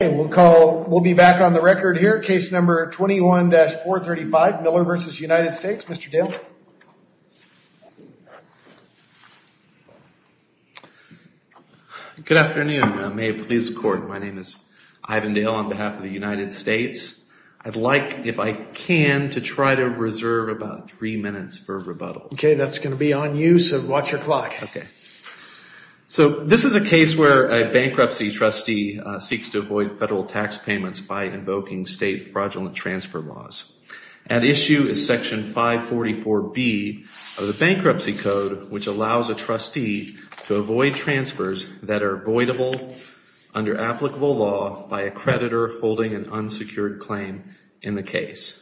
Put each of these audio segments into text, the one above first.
We'll be back on the record here. Case number 21-435, Miller v. United States. Mr. Dale. Good afternoon. May it please the court, my name is Ivan Dale on behalf of the United States. I'd like, if I can, to try to reserve about three minutes for rebuttal. Okay, that's going to be on you, so watch your clock. So this is a case where a bankruptcy trustee seeks to avoid federal tax payments by invoking state fraudulent transfer laws. At issue is section 544B of the Bankruptcy Code, which allows a trustee to avoid transfers that are voidable under applicable law by a creditor holding an unsecured claim in the case.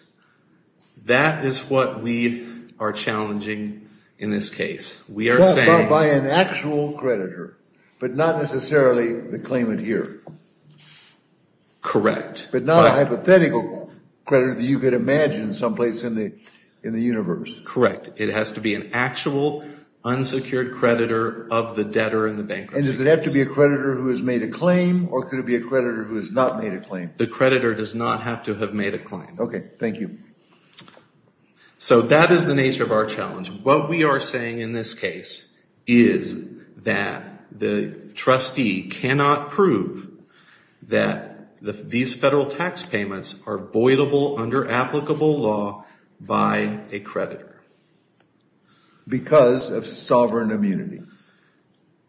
That is what we are challenging in this case. We are saying... By an actual creditor, but not necessarily the claimant here. Correct. But not a hypothetical creditor that you could imagine someplace in the universe. Correct. It has to be an actual unsecured creditor of the debtor in the bankruptcy case. And does it have to be a creditor who has made a claim, or could it be a creditor who has not made a claim? The creditor does not have to have made a claim. Okay, thank you. So that is the nature of our challenge. What we are saying in this case is that the trustee cannot prove that these federal tax payments are voidable under applicable law by a creditor. Because of sovereign immunity.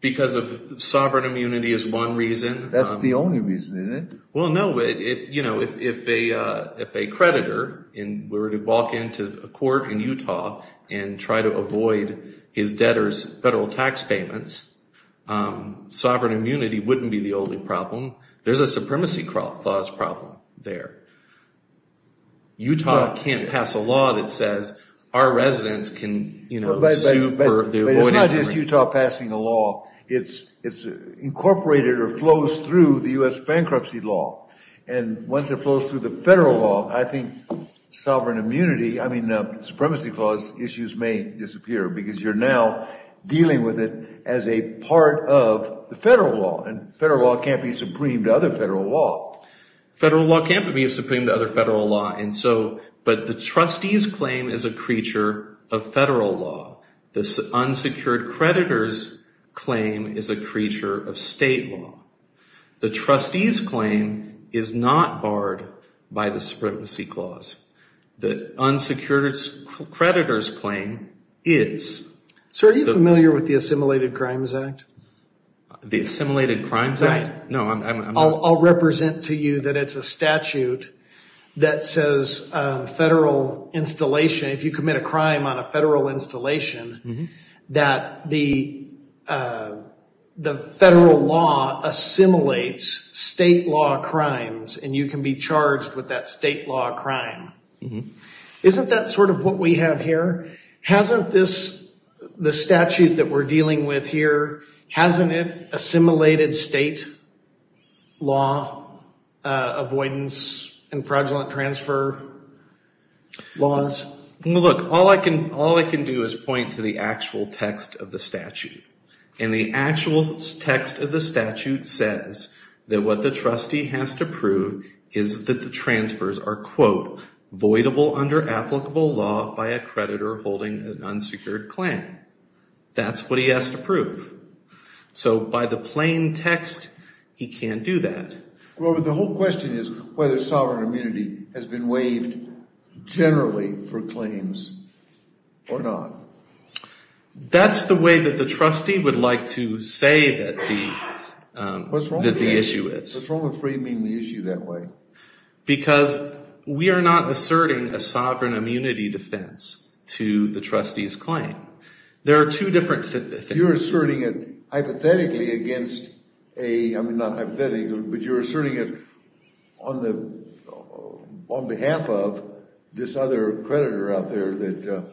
Because of sovereign immunity is one reason. That is the only reason, isn't it? Well, no. If a creditor were to walk into a court in Utah and try to avoid his debtor's federal tax payments, sovereign immunity would not be the only problem. There is a Supremacy Clause problem there. Utah cannot pass a law that says our residents can sue for... But it is not just Utah passing a law. It is incorporated or flows through the U.S. bankruptcy law. And once it flows through the federal law, I think sovereign immunity... I mean, Supremacy Clause issues may disappear because you are now dealing with it as a part of the federal law. And federal law cannot be supreme to other federal law. Federal law cannot be supreme to other federal law. But the trustees claim is a creature of federal law. The unsecured creditor's claim is a creature of state law. The trustees claim is not barred by the Supremacy Clause. The unsecured creditor's claim is... Sir, are you familiar with the Assimilated Crimes Act? The Assimilated Crimes Act? Right. I'll represent to you that it's a statute that says federal installation... If you commit a crime on a federal installation, that the federal law assimilates state law crimes. And you can be charged with that state law crime. Isn't that sort of what we have here? Hasn't this, the statute that we're dealing with here, hasn't it assimilated state law avoidance and fraudulent transfer laws? Look, all I can do is point to the actual text of the statute. And the actual text of the statute says that what the trustee has to prove is that the transfers are, quote, voidable under applicable law by a creditor holding an unsecured claim. That's what he has to prove. So by the plain text, he can't do that. Robert, the whole question is whether sovereign immunity has been waived generally for claims or not. That's the way that the trustee would like to say that the issue is. What's wrong with framing the issue that way? Because we are not asserting a sovereign immunity defense to the trustee's claim. There are two different things. You're asserting it hypothetically against a, I mean, not hypothetically, but you're asserting it on behalf of this other creditor out there that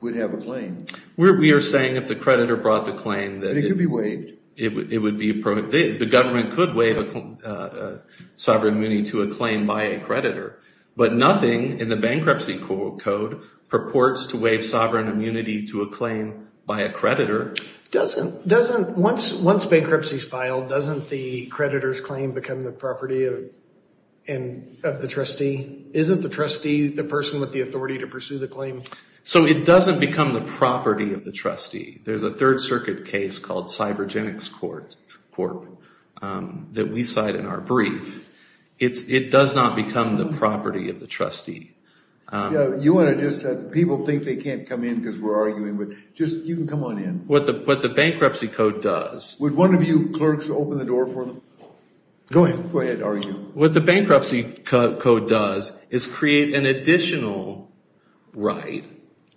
would have a claim. We are saying if the creditor brought the claim that it could be waived. The government could waive sovereign immunity to a claim by a creditor. But nothing in the bankruptcy code purports to waive sovereign immunity to a claim by a creditor. Once bankruptcy is filed, doesn't the creditor's claim become the property of the trustee? Isn't the trustee the person with the authority to pursue the claim? So it doesn't become the property of the trustee. There's a Third Circuit case called Cybergenics Corp. that we cite in our brief. It does not become the property of the trustee. You want to just, people think they can't come in because we're arguing, but just, you can come on in. What the bankruptcy code does. Would one of you clerks open the door for them? Go ahead, argue. So what the bankruptcy code does is create an additional right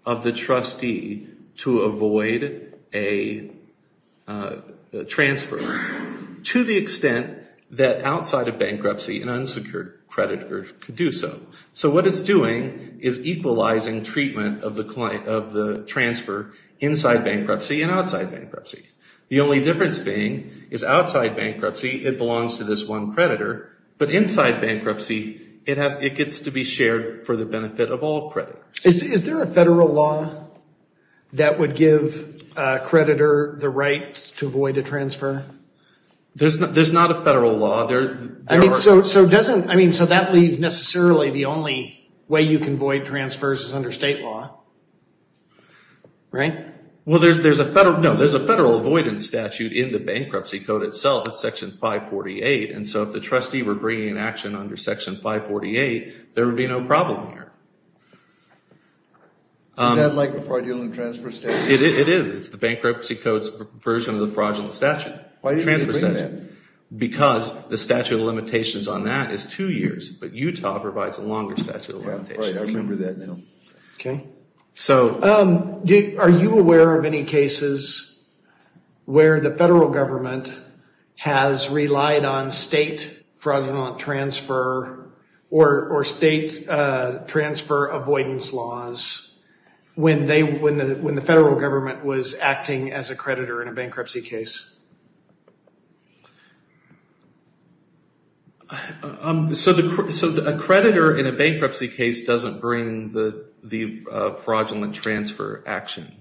of the trustee to avoid a transfer to the extent that outside of bankruptcy an unsecured creditor could do so. So what it's doing is equalizing treatment of the transfer inside bankruptcy and outside bankruptcy. The only difference being is outside bankruptcy it belongs to this one creditor, but inside bankruptcy it gets to be shared for the benefit of all creditors. Is there a federal law that would give a creditor the right to avoid a transfer? There's not a federal law. So that leaves necessarily the only way you can avoid transfers is under state law, right? Well, there's a federal avoidance statute in the bankruptcy code itself, it's section 548, and so if the trustee were bringing an action under section 548, there would be no problem here. Is that like the fraudulent transfer statute? It is. It's the bankruptcy code's version of the fraudulent statute. Why do you need to bring that? Because the statute of limitations on that is two years, but Utah provides a longer statute of limitations. Right, I remember that now. Are you aware of any cases where the federal government has relied on state fraudulent transfer or state transfer avoidance laws when the federal government was acting as a creditor in a bankruptcy case? So a creditor in a bankruptcy case doesn't bring the fraudulent transfer action.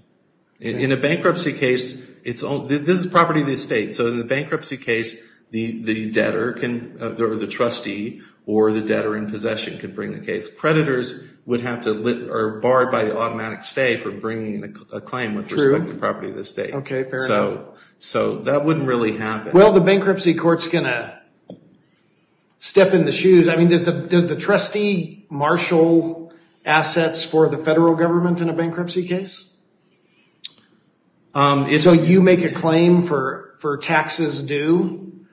In a bankruptcy case, this is property of the estate, so in a bankruptcy case, the debtor or the trustee or the debtor in possession could bring the case. Creditors would have to, are barred by the automatic stay for bringing a claim with respect to property of the estate. Okay, fair enough. So that wouldn't really happen. Well, the bankruptcy court's going to step in the shoes. I mean, does the trustee marshal assets for the federal government in a bankruptcy case? So you make a claim for taxes due,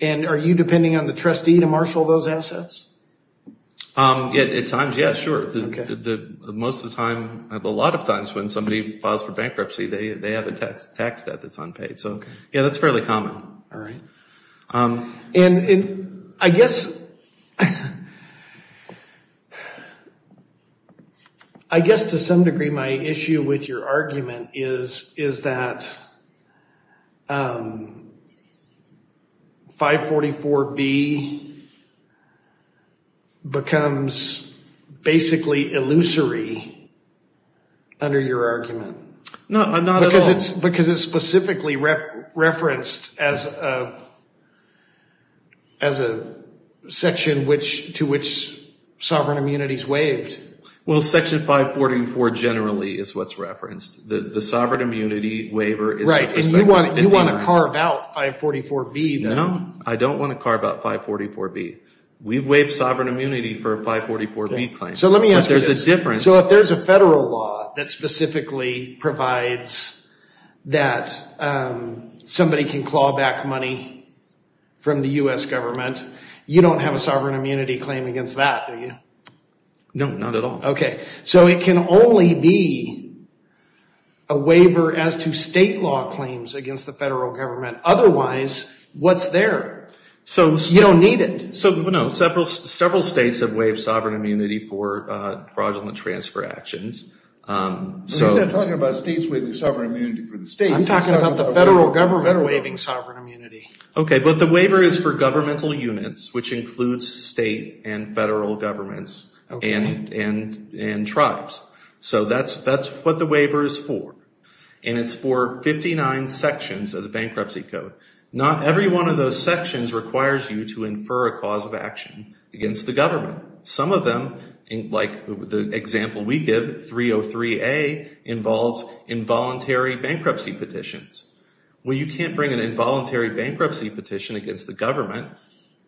and are you depending on the trustee to marshal those assets? At times, yes, sure. Most of the time, a lot of times when somebody files for bankruptcy, they have a tax debt that's unpaid. So, yeah, that's fairly common. And I guess to some degree my issue with your argument is that 544B becomes basically illusory under your argument. No, not at all. Because it's specifically referenced as a section to which sovereign immunity is waived. Well, section 544 generally is what's referenced. The sovereign immunity waiver is the perspective. Right, and you want to carve out 544B then. No, I don't want to carve out 544B. We've waived sovereign immunity for a 544B claim. So let me ask you this. But there's a difference. So if there's a federal law that specifically provides that somebody can claw back money from the U.S. government, you don't have a sovereign immunity claim against that, do you? No, not at all. Okay. So it can only be a waiver as to state law claims against the federal government. Otherwise, what's there? So you don't need it. So, no, several states have waived sovereign immunity for fraudulent transfer actions. You're not talking about states waiving sovereign immunity for the states. I'm talking about the federal government waiving sovereign immunity. Okay, but the waiver is for governmental units, which includes state and federal governments and tribes. So that's what the waiver is for. And it's for 59 sections of the Bankruptcy Code. Not every one of those sections requires you to infer a cause of action against the government. Some of them, like the example we give, 303A, involves involuntary bankruptcy petitions. Well, you can't bring an involuntary bankruptcy petition against the government.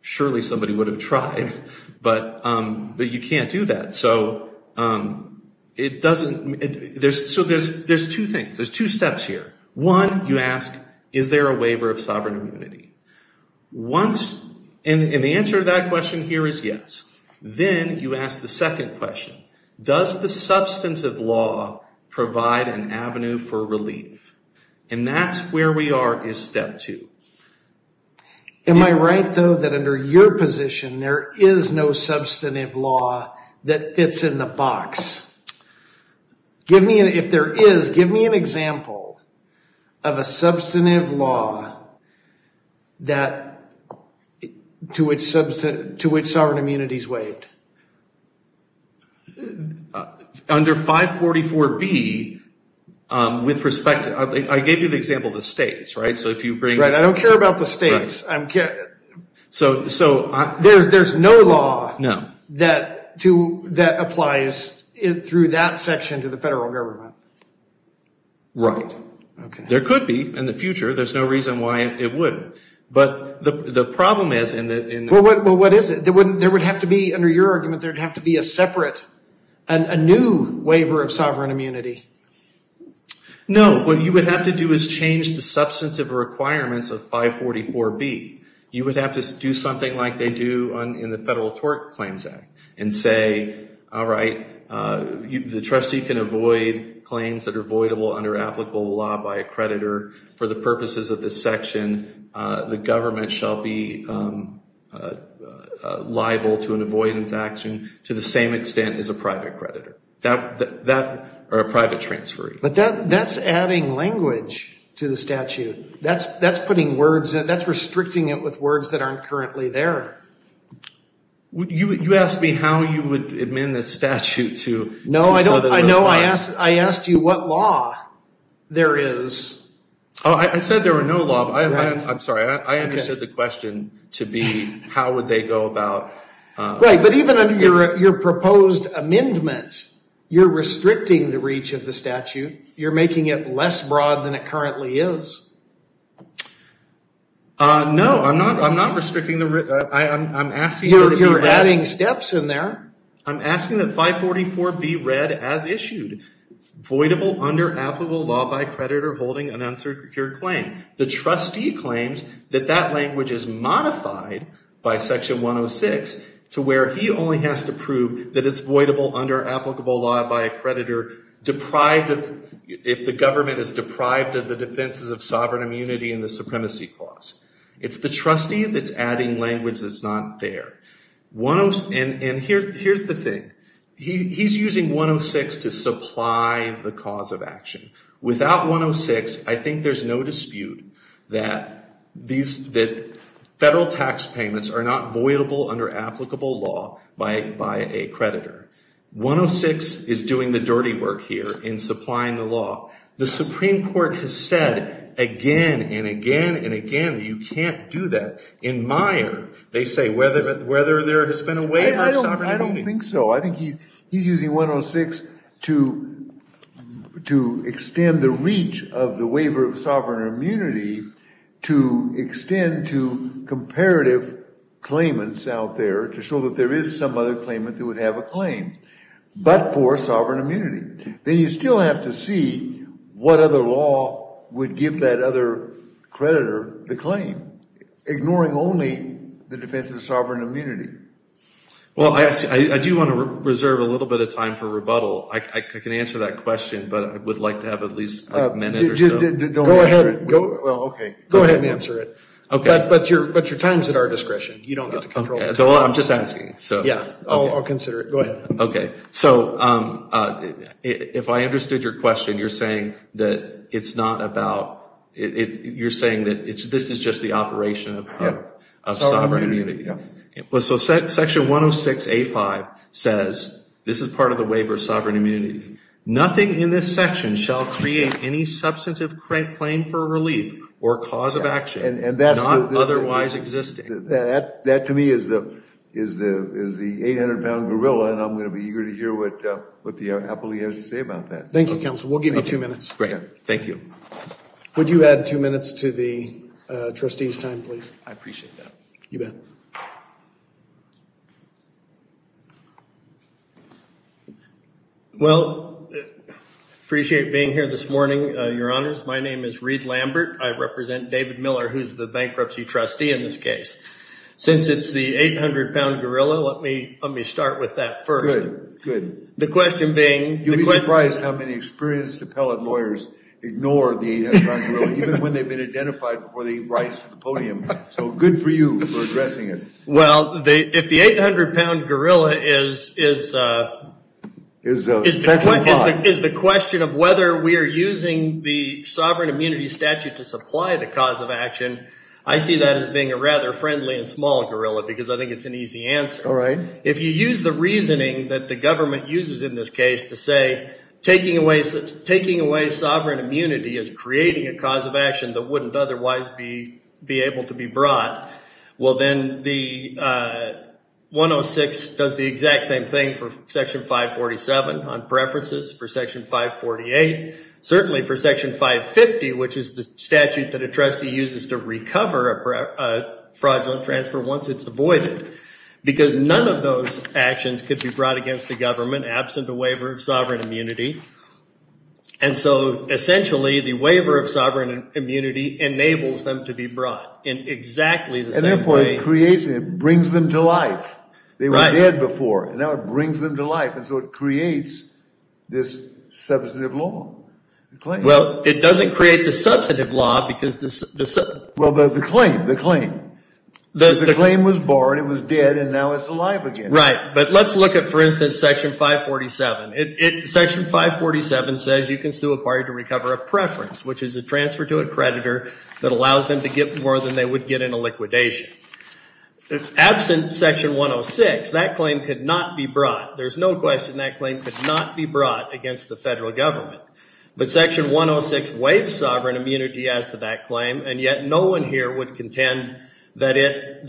Surely somebody would have tried. But you can't do that. So it doesn't – so there's two things. There's two steps here. One, you ask, is there a waiver of sovereign immunity? Once – and the answer to that question here is yes. Then you ask the second question. Does the substantive law provide an avenue for relief? And that's where we are is step two. Am I right, though, that under your position there is no substantive law that fits in the box? If there is, give me an example of a substantive law to which sovereign immunity is waived. Under 544B, with respect to – I gave you the example of the states, right? So if you bring – Right, I don't care about the states. So there's no law that applies through that section to the federal government? Right. There could be in the future. There's no reason why it wouldn't. But the problem is in the – Well, what is it? There would have to be – under your argument, there would have to be a separate, a new waiver of sovereign immunity. No. What you would have to do is change the substantive requirements of 544B. You would have to do something like they do in the Federal Tort Claims Act and say, all right, the trustee can avoid claims that are voidable under applicable law by a creditor. For the purposes of this section, the government shall be liable to an avoidance action to the same extent as a private creditor. Or a private transferee. But that's adding language to the statute. That's putting words in. That's restricting it with words that aren't currently there. You asked me how you would amend the statute to – No, I don't. I asked you what law there is. I said there were no law. I'm sorry. I understood the question to be how would they go about – Right, but even under your proposed amendment, you're restricting the reach of the statute. You're making it less broad than it currently is. No, I'm not restricting the – I'm asking – You're adding steps in there. I'm asking that 544B be read as issued. Voidable under applicable law by creditor holding an unsecured claim. The trustee claims that that language is modified by Section 106 to where he only has to prove that it's voidable under applicable law by a creditor deprived of – if the government is deprived of the defenses of sovereign immunity and the supremacy clause. It's the trustee that's adding language that's not there. And here's the thing. He's using 106 to supply the cause of action. Without 106, I think there's no dispute that federal tax payments are not voidable under applicable law by a creditor. 106 is doing the dirty work here in supplying the law. The Supreme Court has said again and again and again that you can't do that. In Meyer, they say whether there has been a waiver of sovereign immunity. I don't think so. I think he's using 106 to extend the reach of the waiver of sovereign immunity to extend to comparative claimants out there to show that there is some other claimant that would have a claim but for sovereign immunity. Then you still have to see what other law would give that other creditor the claim, ignoring only the defense of sovereign immunity. Well, I do want to reserve a little bit of time for rebuttal. I can answer that question, but I would like to have at least a minute or so. Go ahead. Go ahead and answer it. But your time is at our discretion. You don't get to control it. I'm just asking. I'll consider it. Go ahead. Okay. So if I understood your question, you're saying that it's not about, you're saying that this is just the operation of sovereign immunity. So section 106A5 says this is part of the waiver of sovereign immunity. Nothing in this section shall create any substantive claim for relief or cause of action not otherwise existing. That to me is the 800-pound gorilla, and I'm going to be eager to hear what the appellee has to say about that. Thank you, counsel. We'll give him two minutes. Great. Thank you. Would you add two minutes to the trustee's time, please? I appreciate that. You bet. Well, I appreciate being here this morning, Your Honors. My name is Reed Lambert. I represent David Miller, who's the bankruptcy trustee in this case. Since it's the 800-pound gorilla, let me start with that first. Good. The question being the question. You'd be surprised how many experienced appellate lawyers ignore the 800-pound gorilla, even when they've been identified before they rise to the podium. So good for you for addressing it. Well, if the 800-pound gorilla is the question of whether we are using the sovereign immunity statute to supply the cause of action, I see that as being a rather friendly and small gorilla, because I think it's an easy answer. All right. If you use the reasoning that the government uses in this case to say taking away sovereign immunity is creating a cause of action that wouldn't otherwise be able to be brought, well then the 106 does the exact same thing for Section 547 on preferences, for Section 548. Certainly for Section 550, which is the statute that a trustee uses to recover a fraudulent transfer once it's avoided, because none of those actions could be brought against the government, absent a waiver of sovereign immunity. And so, essentially, the waiver of sovereign immunity enables them to be brought in exactly the same way. And therefore it creates and it brings them to life. They were dead before, and now it brings them to life, and so it creates this substantive law. Well, it doesn't create the substantive law, because the... Well, the claim, the claim. The claim was borne, it was dead, and now it's alive again. Right. But let's look at, for instance, Section 547. Section 547 says you can sue a party to recover a preference, which is a transfer to a creditor that allows them to get more than they would get in a liquidation. Absent Section 106, that claim could not be brought. There's no question that claim could not be brought against the federal government. But Section 106 waives sovereign immunity as to that claim, and yet no one here would contend that it,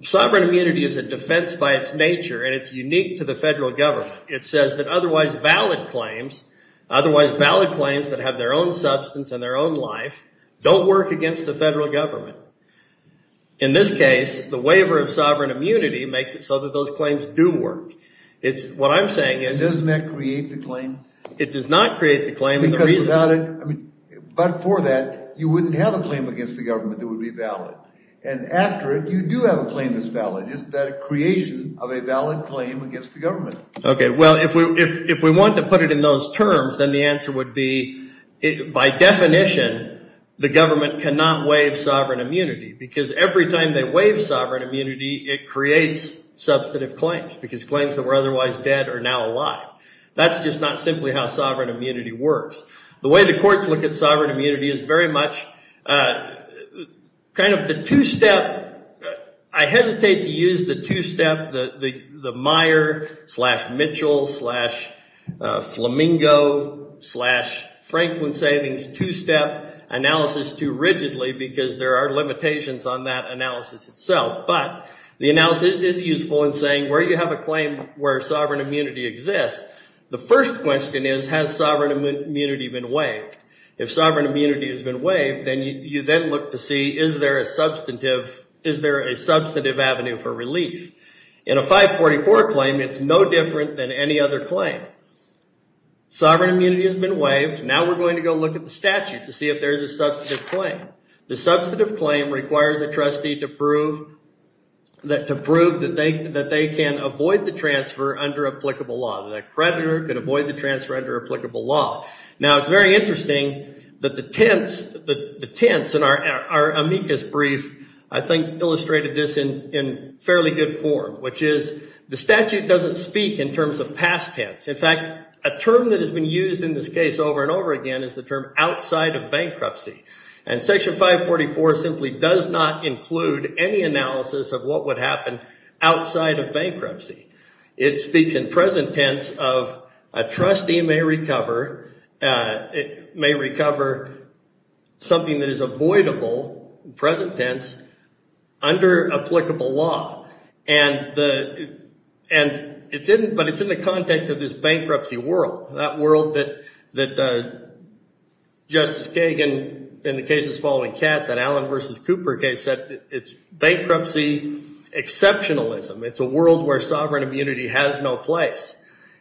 Sovereign immunity is a defense by its nature, and it's unique to the federal government. It says that otherwise valid claims, otherwise valid claims that have their own substance and their own life, don't work against the federal government. In this case, the waiver of sovereign immunity makes it so that those claims do work. It's, what I'm saying is... And doesn't that create the claim? It does not create the claim. Because without it, I mean, but for that, you wouldn't have a claim against the government that would be valid. And after it, you do have a claim that's valid. Isn't that a creation of a valid claim against the government? Okay, well, if we want to put it in those terms, then the answer would be, by definition, the government cannot waive sovereign immunity. Because every time they waive sovereign immunity, it creates substantive claims. Because claims that were otherwise dead are now alive. That's just not simply how sovereign immunity works. The way the courts look at sovereign immunity is very much, kind of the two-step, I hesitate to use the two-step, the Meyer, slash Mitchell, slash Flamingo, slash Franklin Savings, two-step analysis too rigidly, because there are limitations on that analysis itself. But, the analysis is useful in saying, where you have a claim where sovereign immunity exists, the first question is, has sovereign immunity been waived? If sovereign immunity has been waived, then you then look to see, is there a substantive, is there a substantive avenue for relief? In a 544 claim, it's no different than any other claim. Sovereign immunity has been waived, now we're going to go look at the statute to see if there's a substantive claim. The substantive claim requires a trustee to prove, to prove that they can avoid the transfer under applicable law, that a creditor can avoid the transfer under applicable law. Now, it's very interesting, that the tense, the tense in our amicus brief, I think illustrated this in fairly good form, which is, the statute doesn't speak in terms of past tense. In fact, a term that has been used in this case over and over again is the term outside of bankruptcy. And Section 544 simply does not include any analysis of what would happen outside of bankruptcy. It speaks in present tense of, a trustee may recover, may recover something that is avoidable, in present tense, under applicable law. And the, and it's in, but it's in the context of this bankruptcy world, that world that, that Justice Kagan, in the cases following Katz, that Allen versus Cooper case said, it's bankruptcy exceptionalism. It's a world where sovereign immunity has no place.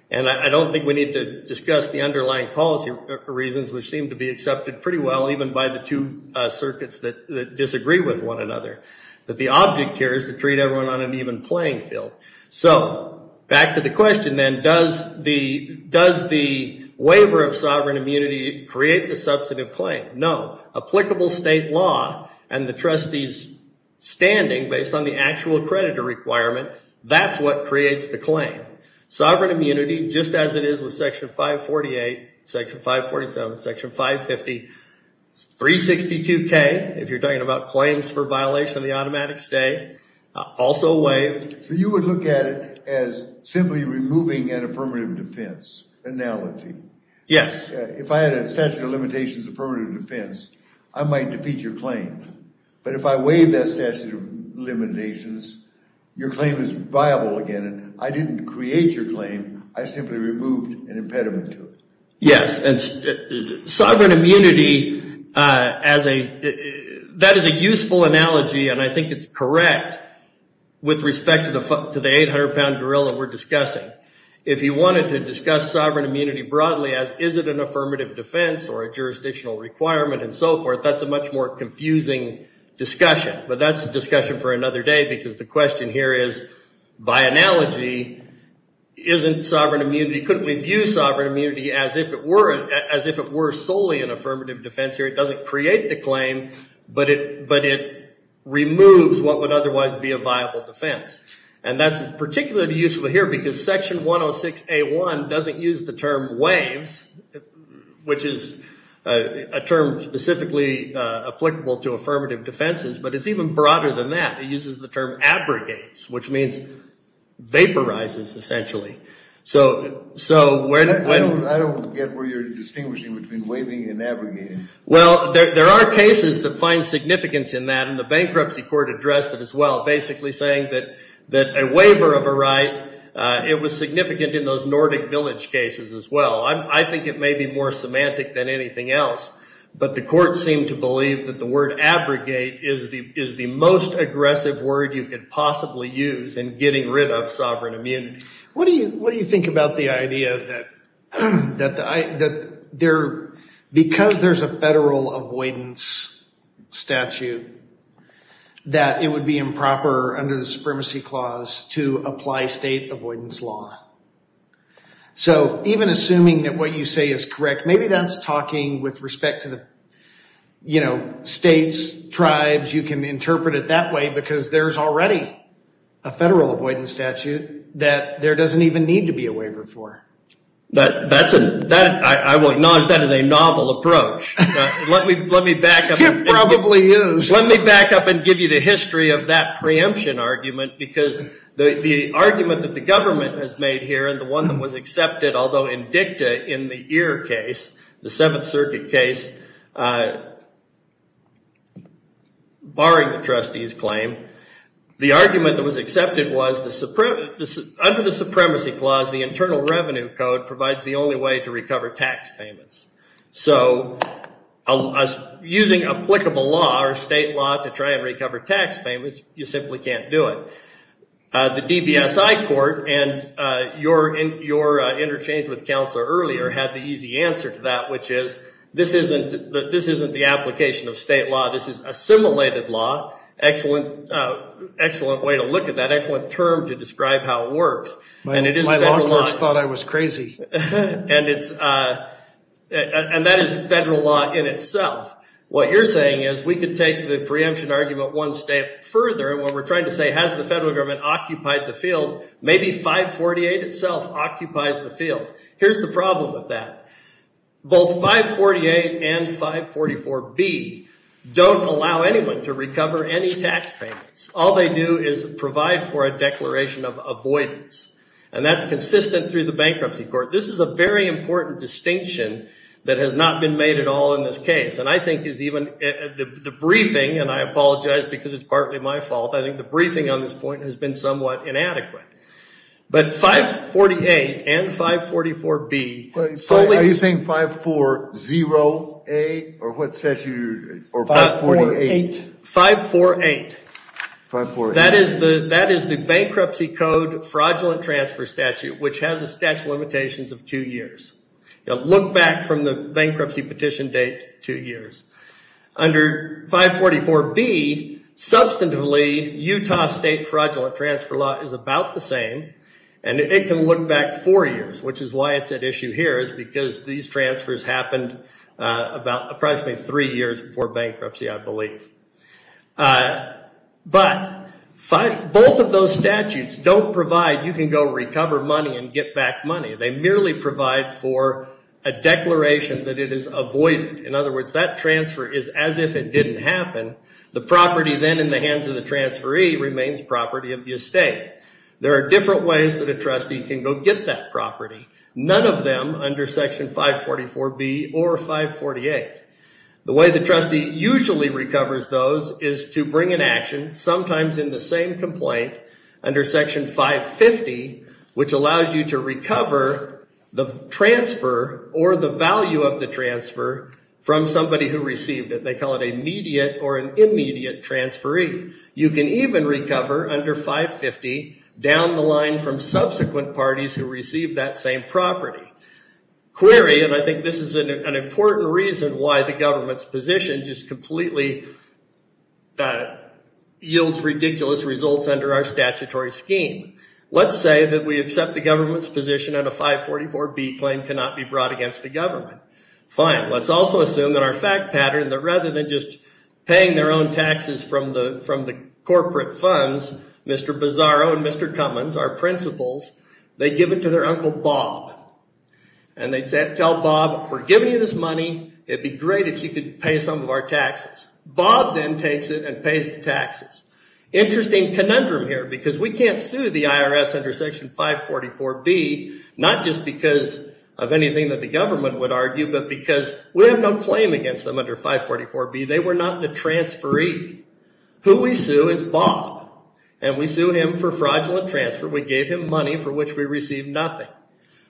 And I don't think we need to discuss the underlying policy reasons, which seem to be accepted pretty well, even by the two circuits that, that disagree with one another. But the object here is to treat everyone on an even playing field. So, back to the question then, does the, does the waiver of sovereign immunity create the substantive claim? No. Applicable state law, and the trustee's standing, based on the actual creditor requirement, that's what creates the claim. Sovereign immunity, just as it is with section 548, section 547, section 550, 362K, if you're talking about claims for violation of the automatic stay, also waived. So you would look at it as simply removing an affirmative defense, an analogy. Yes. If I had a statute of limitations affirmative defense, I might defeat your claim. But if I waive that statute of limitations, your claim is viable again, and I didn't create your claim, I simply removed an impediment to it. Yes, and sovereign immunity as a, that is a useful analogy, and I think it's correct with respect to the 800-pound gorilla we're discussing. If you wanted to discuss sovereign immunity broadly as is it an affirmative defense or a jurisdictional requirement and so forth, that's a much more confusing discussion. But that's a discussion for another day because the question here is by analogy, isn't sovereign immunity, couldn't we view sovereign immunity as if it were, as if it were solely an affirmative defense or it doesn't create the claim, but it removes what would otherwise be a viable defense. And that's particularly useful here because section 106A1 doesn't use the term waives, which is a term specifically applicable to affirmative defenses, but it's even broader than that. It uses the term abrogates, which means vaporizes, essentially. So, so when, I don't get where you're distinguishing between waiving and abrogating. Well, there are cases that find significance in that, and the bankruptcy court addressed it as well, basically saying that a waiver of a right, it was significant in those Nordic village cases as well. I think it may be more semantic than anything else, but the court seemed to believe that the word abrogate is the most aggressive word you could possibly use in getting rid of sovereign immunity. What do you, what do you think about the idea that, that the, that there, because there's a federal avoidance statute, that it would be improper under the Supremacy Clause to apply state avoidance law. So, even assuming that what you say is correct, maybe that's talking with respect to the, you know, states, tribes, you can interpret it that way because there's already a federal avoidance statute that there doesn't even need to be a waiver for. That, that's a, that, I will acknowledge that as a novel approach. Let me, let me back up. It probably is. Let me back up and give you the history of that preemption argument because the, the argument that the government has made here and the one that was accepted, although in dicta, in the Ear case, the Seventh Circuit case, barring the trustee's claim, the argument that was accepted was the, under the Supremacy Clause, the Internal Revenue Code provides the only way to recover tax payments. So, using applicable law or state law to try and recover tax payments, you simply can't do it. The DBSI Court and your, your interchange with Counselor earlier had the easy answer to that, which is, this isn't, this isn't the application of state law. This is assimilated law. Excellent, excellent way to look at that. Excellent term to describe how it works. And it is federal law. My law clerks thought I was crazy. And it's, and that is federal law in itself. What you're saying is we could take the preemption argument one step further and what we're trying to say, has the federal government occupied the field? Maybe 548 itself occupies the field. Here's the problem with that. Both 548 and 544B don't allow anyone to recover any tax payments. All they do is provide for a declaration of avoidance. And that's consistent through the Bankruptcy Court. This is a very important distinction that has not been made at all in this case. And I think is even, the briefing, and I apologize because it's partly my fault, I think the briefing on this point has been somewhat inadequate. But 548 and 544B solely... Are you saying 540A? Or what statute? Or 548? 548. That is the bankruptcy code fraudulent transfer statute which has a statute of limitations of two years. Now look back from the bankruptcy petition date two years. Under 544B substantively Utah state fraudulent transfer law is about the same. And it can look back four years which is why it's at issue here is because these transfers happened approximately three years before bankruptcy I believe. But both of those statutes don't provide you can go recover money and get back money. They merely provide for a declaration that it is avoided. In other words, that transfer is as if it didn't happen. The property then in the hands of the transferee remains property of the estate. There are different ways that a trustee can go and get that property. None of them under section 544B or 548. The way the trustee usually recovers those is to bring an action sometimes in the same complaint under section 550 which allows you to recover the transfer or the value of the transfer from somebody who received it. They call it a immediate or an immediate transferee. You can even recover under 550 down the line from subsequent parties who received that same property. Query, and I think this is an important reason why the government's position just completely yields ridiculous results under our statutory scheme. Let's say that we accept the government's position and a 544B claim cannot be brought against the government. Fine. Let's also assume that our fact pattern that rather than just paying their own taxes from the corporate funds, Mr. Bizzaro and Mr. Cummins our principals, they give it to their uncle Bob and they tell Bob we're giving you this money. It would be great if you could pay some of our taxes. Bob then takes it and pays the taxes. Interesting conundrum here because we can't sue the IRS under section 544B not just because of anything that the government would argue but because we have no claim against them under 544B. They were not the transferee. Who we sue is Bob and we sue him for fraudulent transfer. We gave him money for which we received nothing.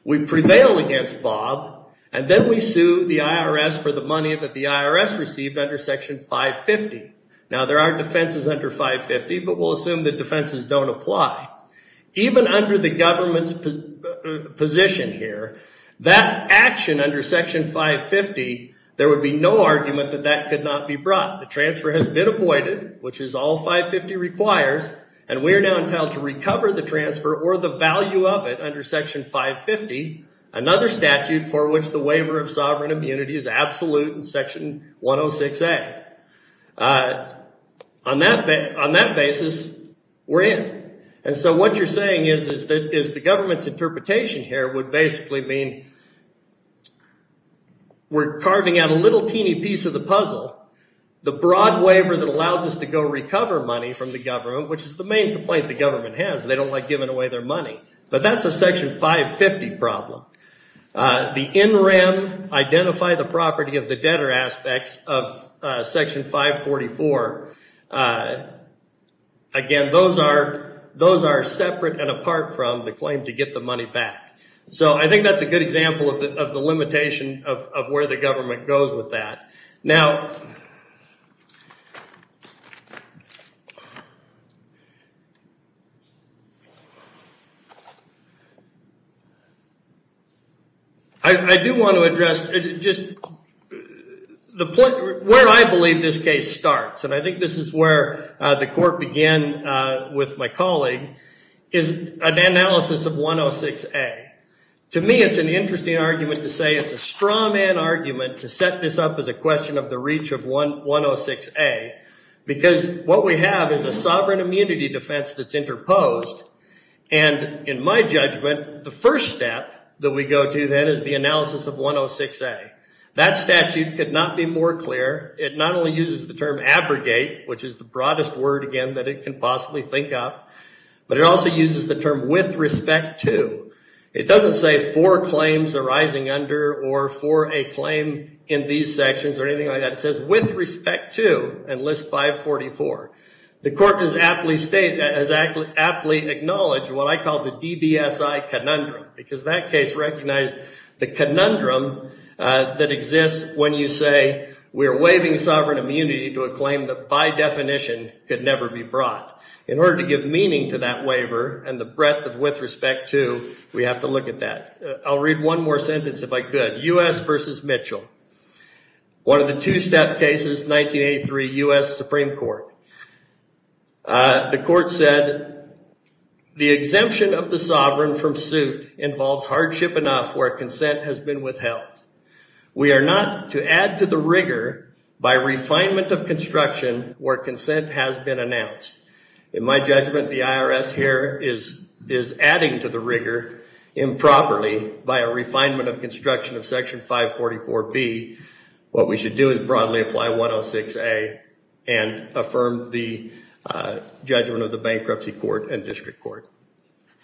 We prevail against Bob and then we sue the IRS for the money that the IRS received under section 550. Now there are defenses under 550 but we'll assume that defenses don't apply. Even under the government's position here that action under section 550 there would be no argument that that could not be brought. The transfer has been avoided which is all 550 requires and we are now entitled to recover the transfer or the value of it under section 550 another statute for which the waiver of sovereign immunity is absolute in section 106A. On that basis we're in. And so what you're saying is that the government's interpretation here would basically mean we're carving out a little teeny piece of the puzzle. The broad waiver that allows us to go recover money from the government which is the main complaint the government has they don't like giving away their money. But that's a section 550 problem. The NRAM identify the property of the debtor aspects of section 544. Again those are separate and apart from the claim to get the money back. So I think that's a good example of the limitation of where the government goes with that. Now I do want to address just the point where I believe this case starts and I think this is where the court began with my colleague is an analysis of 106A. To me it's an interesting argument to say it's a straw man argument to set this up as a question of the reach of 106A because what we have is a strong argument and a sovereign immunity defense that's interposed and in my judgment the first step that we go to then is the analysis of 106A. That statute could not be more clear it not only uses the term abrogate which is the broadest word again that it can possibly think of but it also uses the term with respect to. It doesn't say for claims arising under or for a claim in these sections or anything like that it says with respect to and list 544. The court has aptly stated has aptly acknowledged what I call the DBSI conundrum because that case recognized the conundrum that exists when you say we are waiving sovereign immunity to a claim that by definition could never be brought. In order to give meaning to that waiver and the breadth of with respect to we have to look at that. I'll read one more sentence if I could. U.S. v. Mitchell one of the two step cases 1983 U.S. Supreme Court the court said the exemption of the sovereign from suit involves hardship enough where consent has been withheld. We are not to add to the rigor by refinement of construction where consent has been announced. In my judgment the IRS here is adding to the rigor improperly by a refinement of construction of section 544B what we should do is broadly apply 106A and affirm the judgment of the bankruptcy court and district court.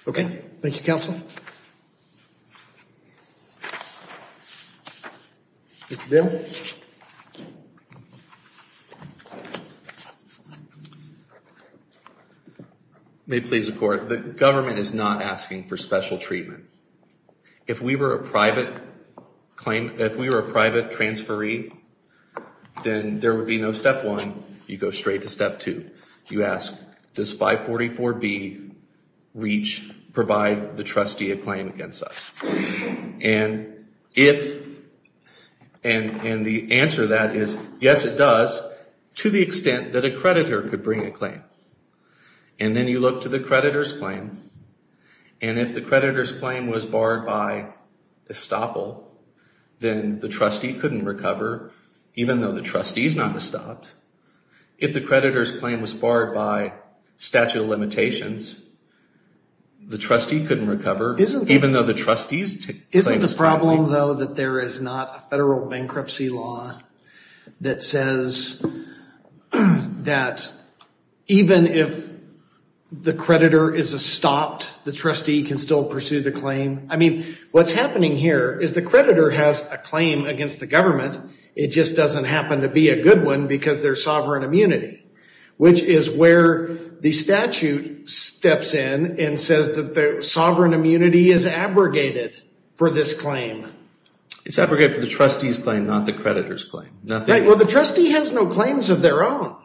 Okay. Thank you counsel. Mr. Bim. May it please the court. The government is not asking for special treatment. If we were a private claim if we were a private transferee then there would be no step one. You go straight to step two. You ask does 544B reach provide the trustee a claim against us? And if and the answer to that is yes it does to the extent that a creditor could bring a claim. And then you look to the creditor's claim and if the creditor's claim was barred by estoppel then the trustee couldn't recover even though the trustee is not estopped. If the creditor's claim was barred by statute of limitations the trustee couldn't recover even though the trustee's claim was stopped. Isn't the problem though that there is not a federal bankruptcy law that says that even if the creditor is estopped the trustee can still pursue the claim? I mean what's happening here is the creditor has a claim against the government it just doesn't happen to be a good one because there is sovereign immunity which is where the statute steps in and says that the sovereign immunity is abrogated for this claim. It's abrogated for the trustee's claim not the creditor's claim. Well the trustee has no claims of their own.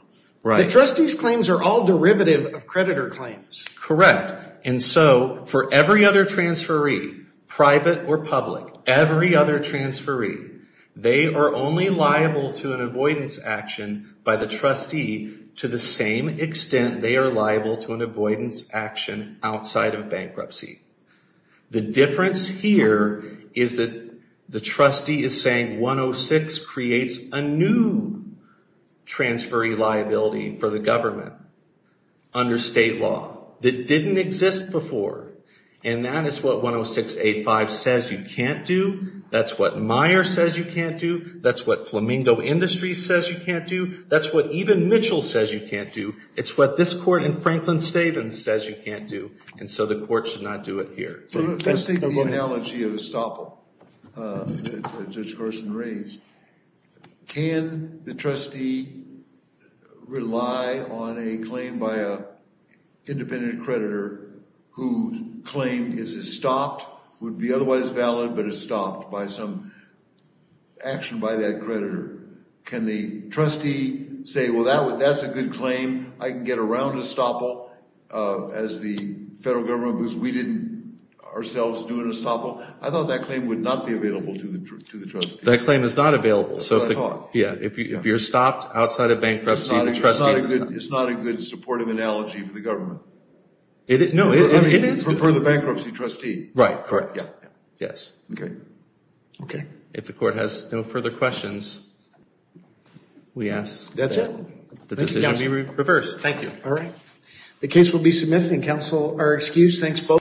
The trustee's claims are all derivative of creditor claims. Correct. And so for every other transferee private or public every other transferee they are only liable to an avoidance action by the trustee to the same extent they are liable to an avoidance action outside of bankruptcy. The difference here is that the trustee is saying 106 creates a new transferee liability for the government under state law that didn't exist before and that is what 106.85 says you can't do that's what Meyer says you can't do that's what Flamingo Industries says you can't do that's what even Mitchell says you can't do it's what this court in Franklin State says you can't do and so the court should not do it here. Let's take the analogy of estoppel that Judge Gorson raised. Can the trustee rely on a claim by a independent creditor who claimed is it stopped would be otherwise valid but it's stopped by some action by that creditor can the trustee say well that's a good claim I can get around estoppel as the federal government because we didn't ourselves do an estoppel I thought that claim would not be available to the trustee that claim is not available so if you're stopped outside of bankruptcy the trustee it's not a good supportive analogy for the government no it is for the bankruptcy trustee right correct yes okay okay if the court has no further questions we ask that's it the decision be reversed thank you all right the case will be submitted and counsel are excused thanks both for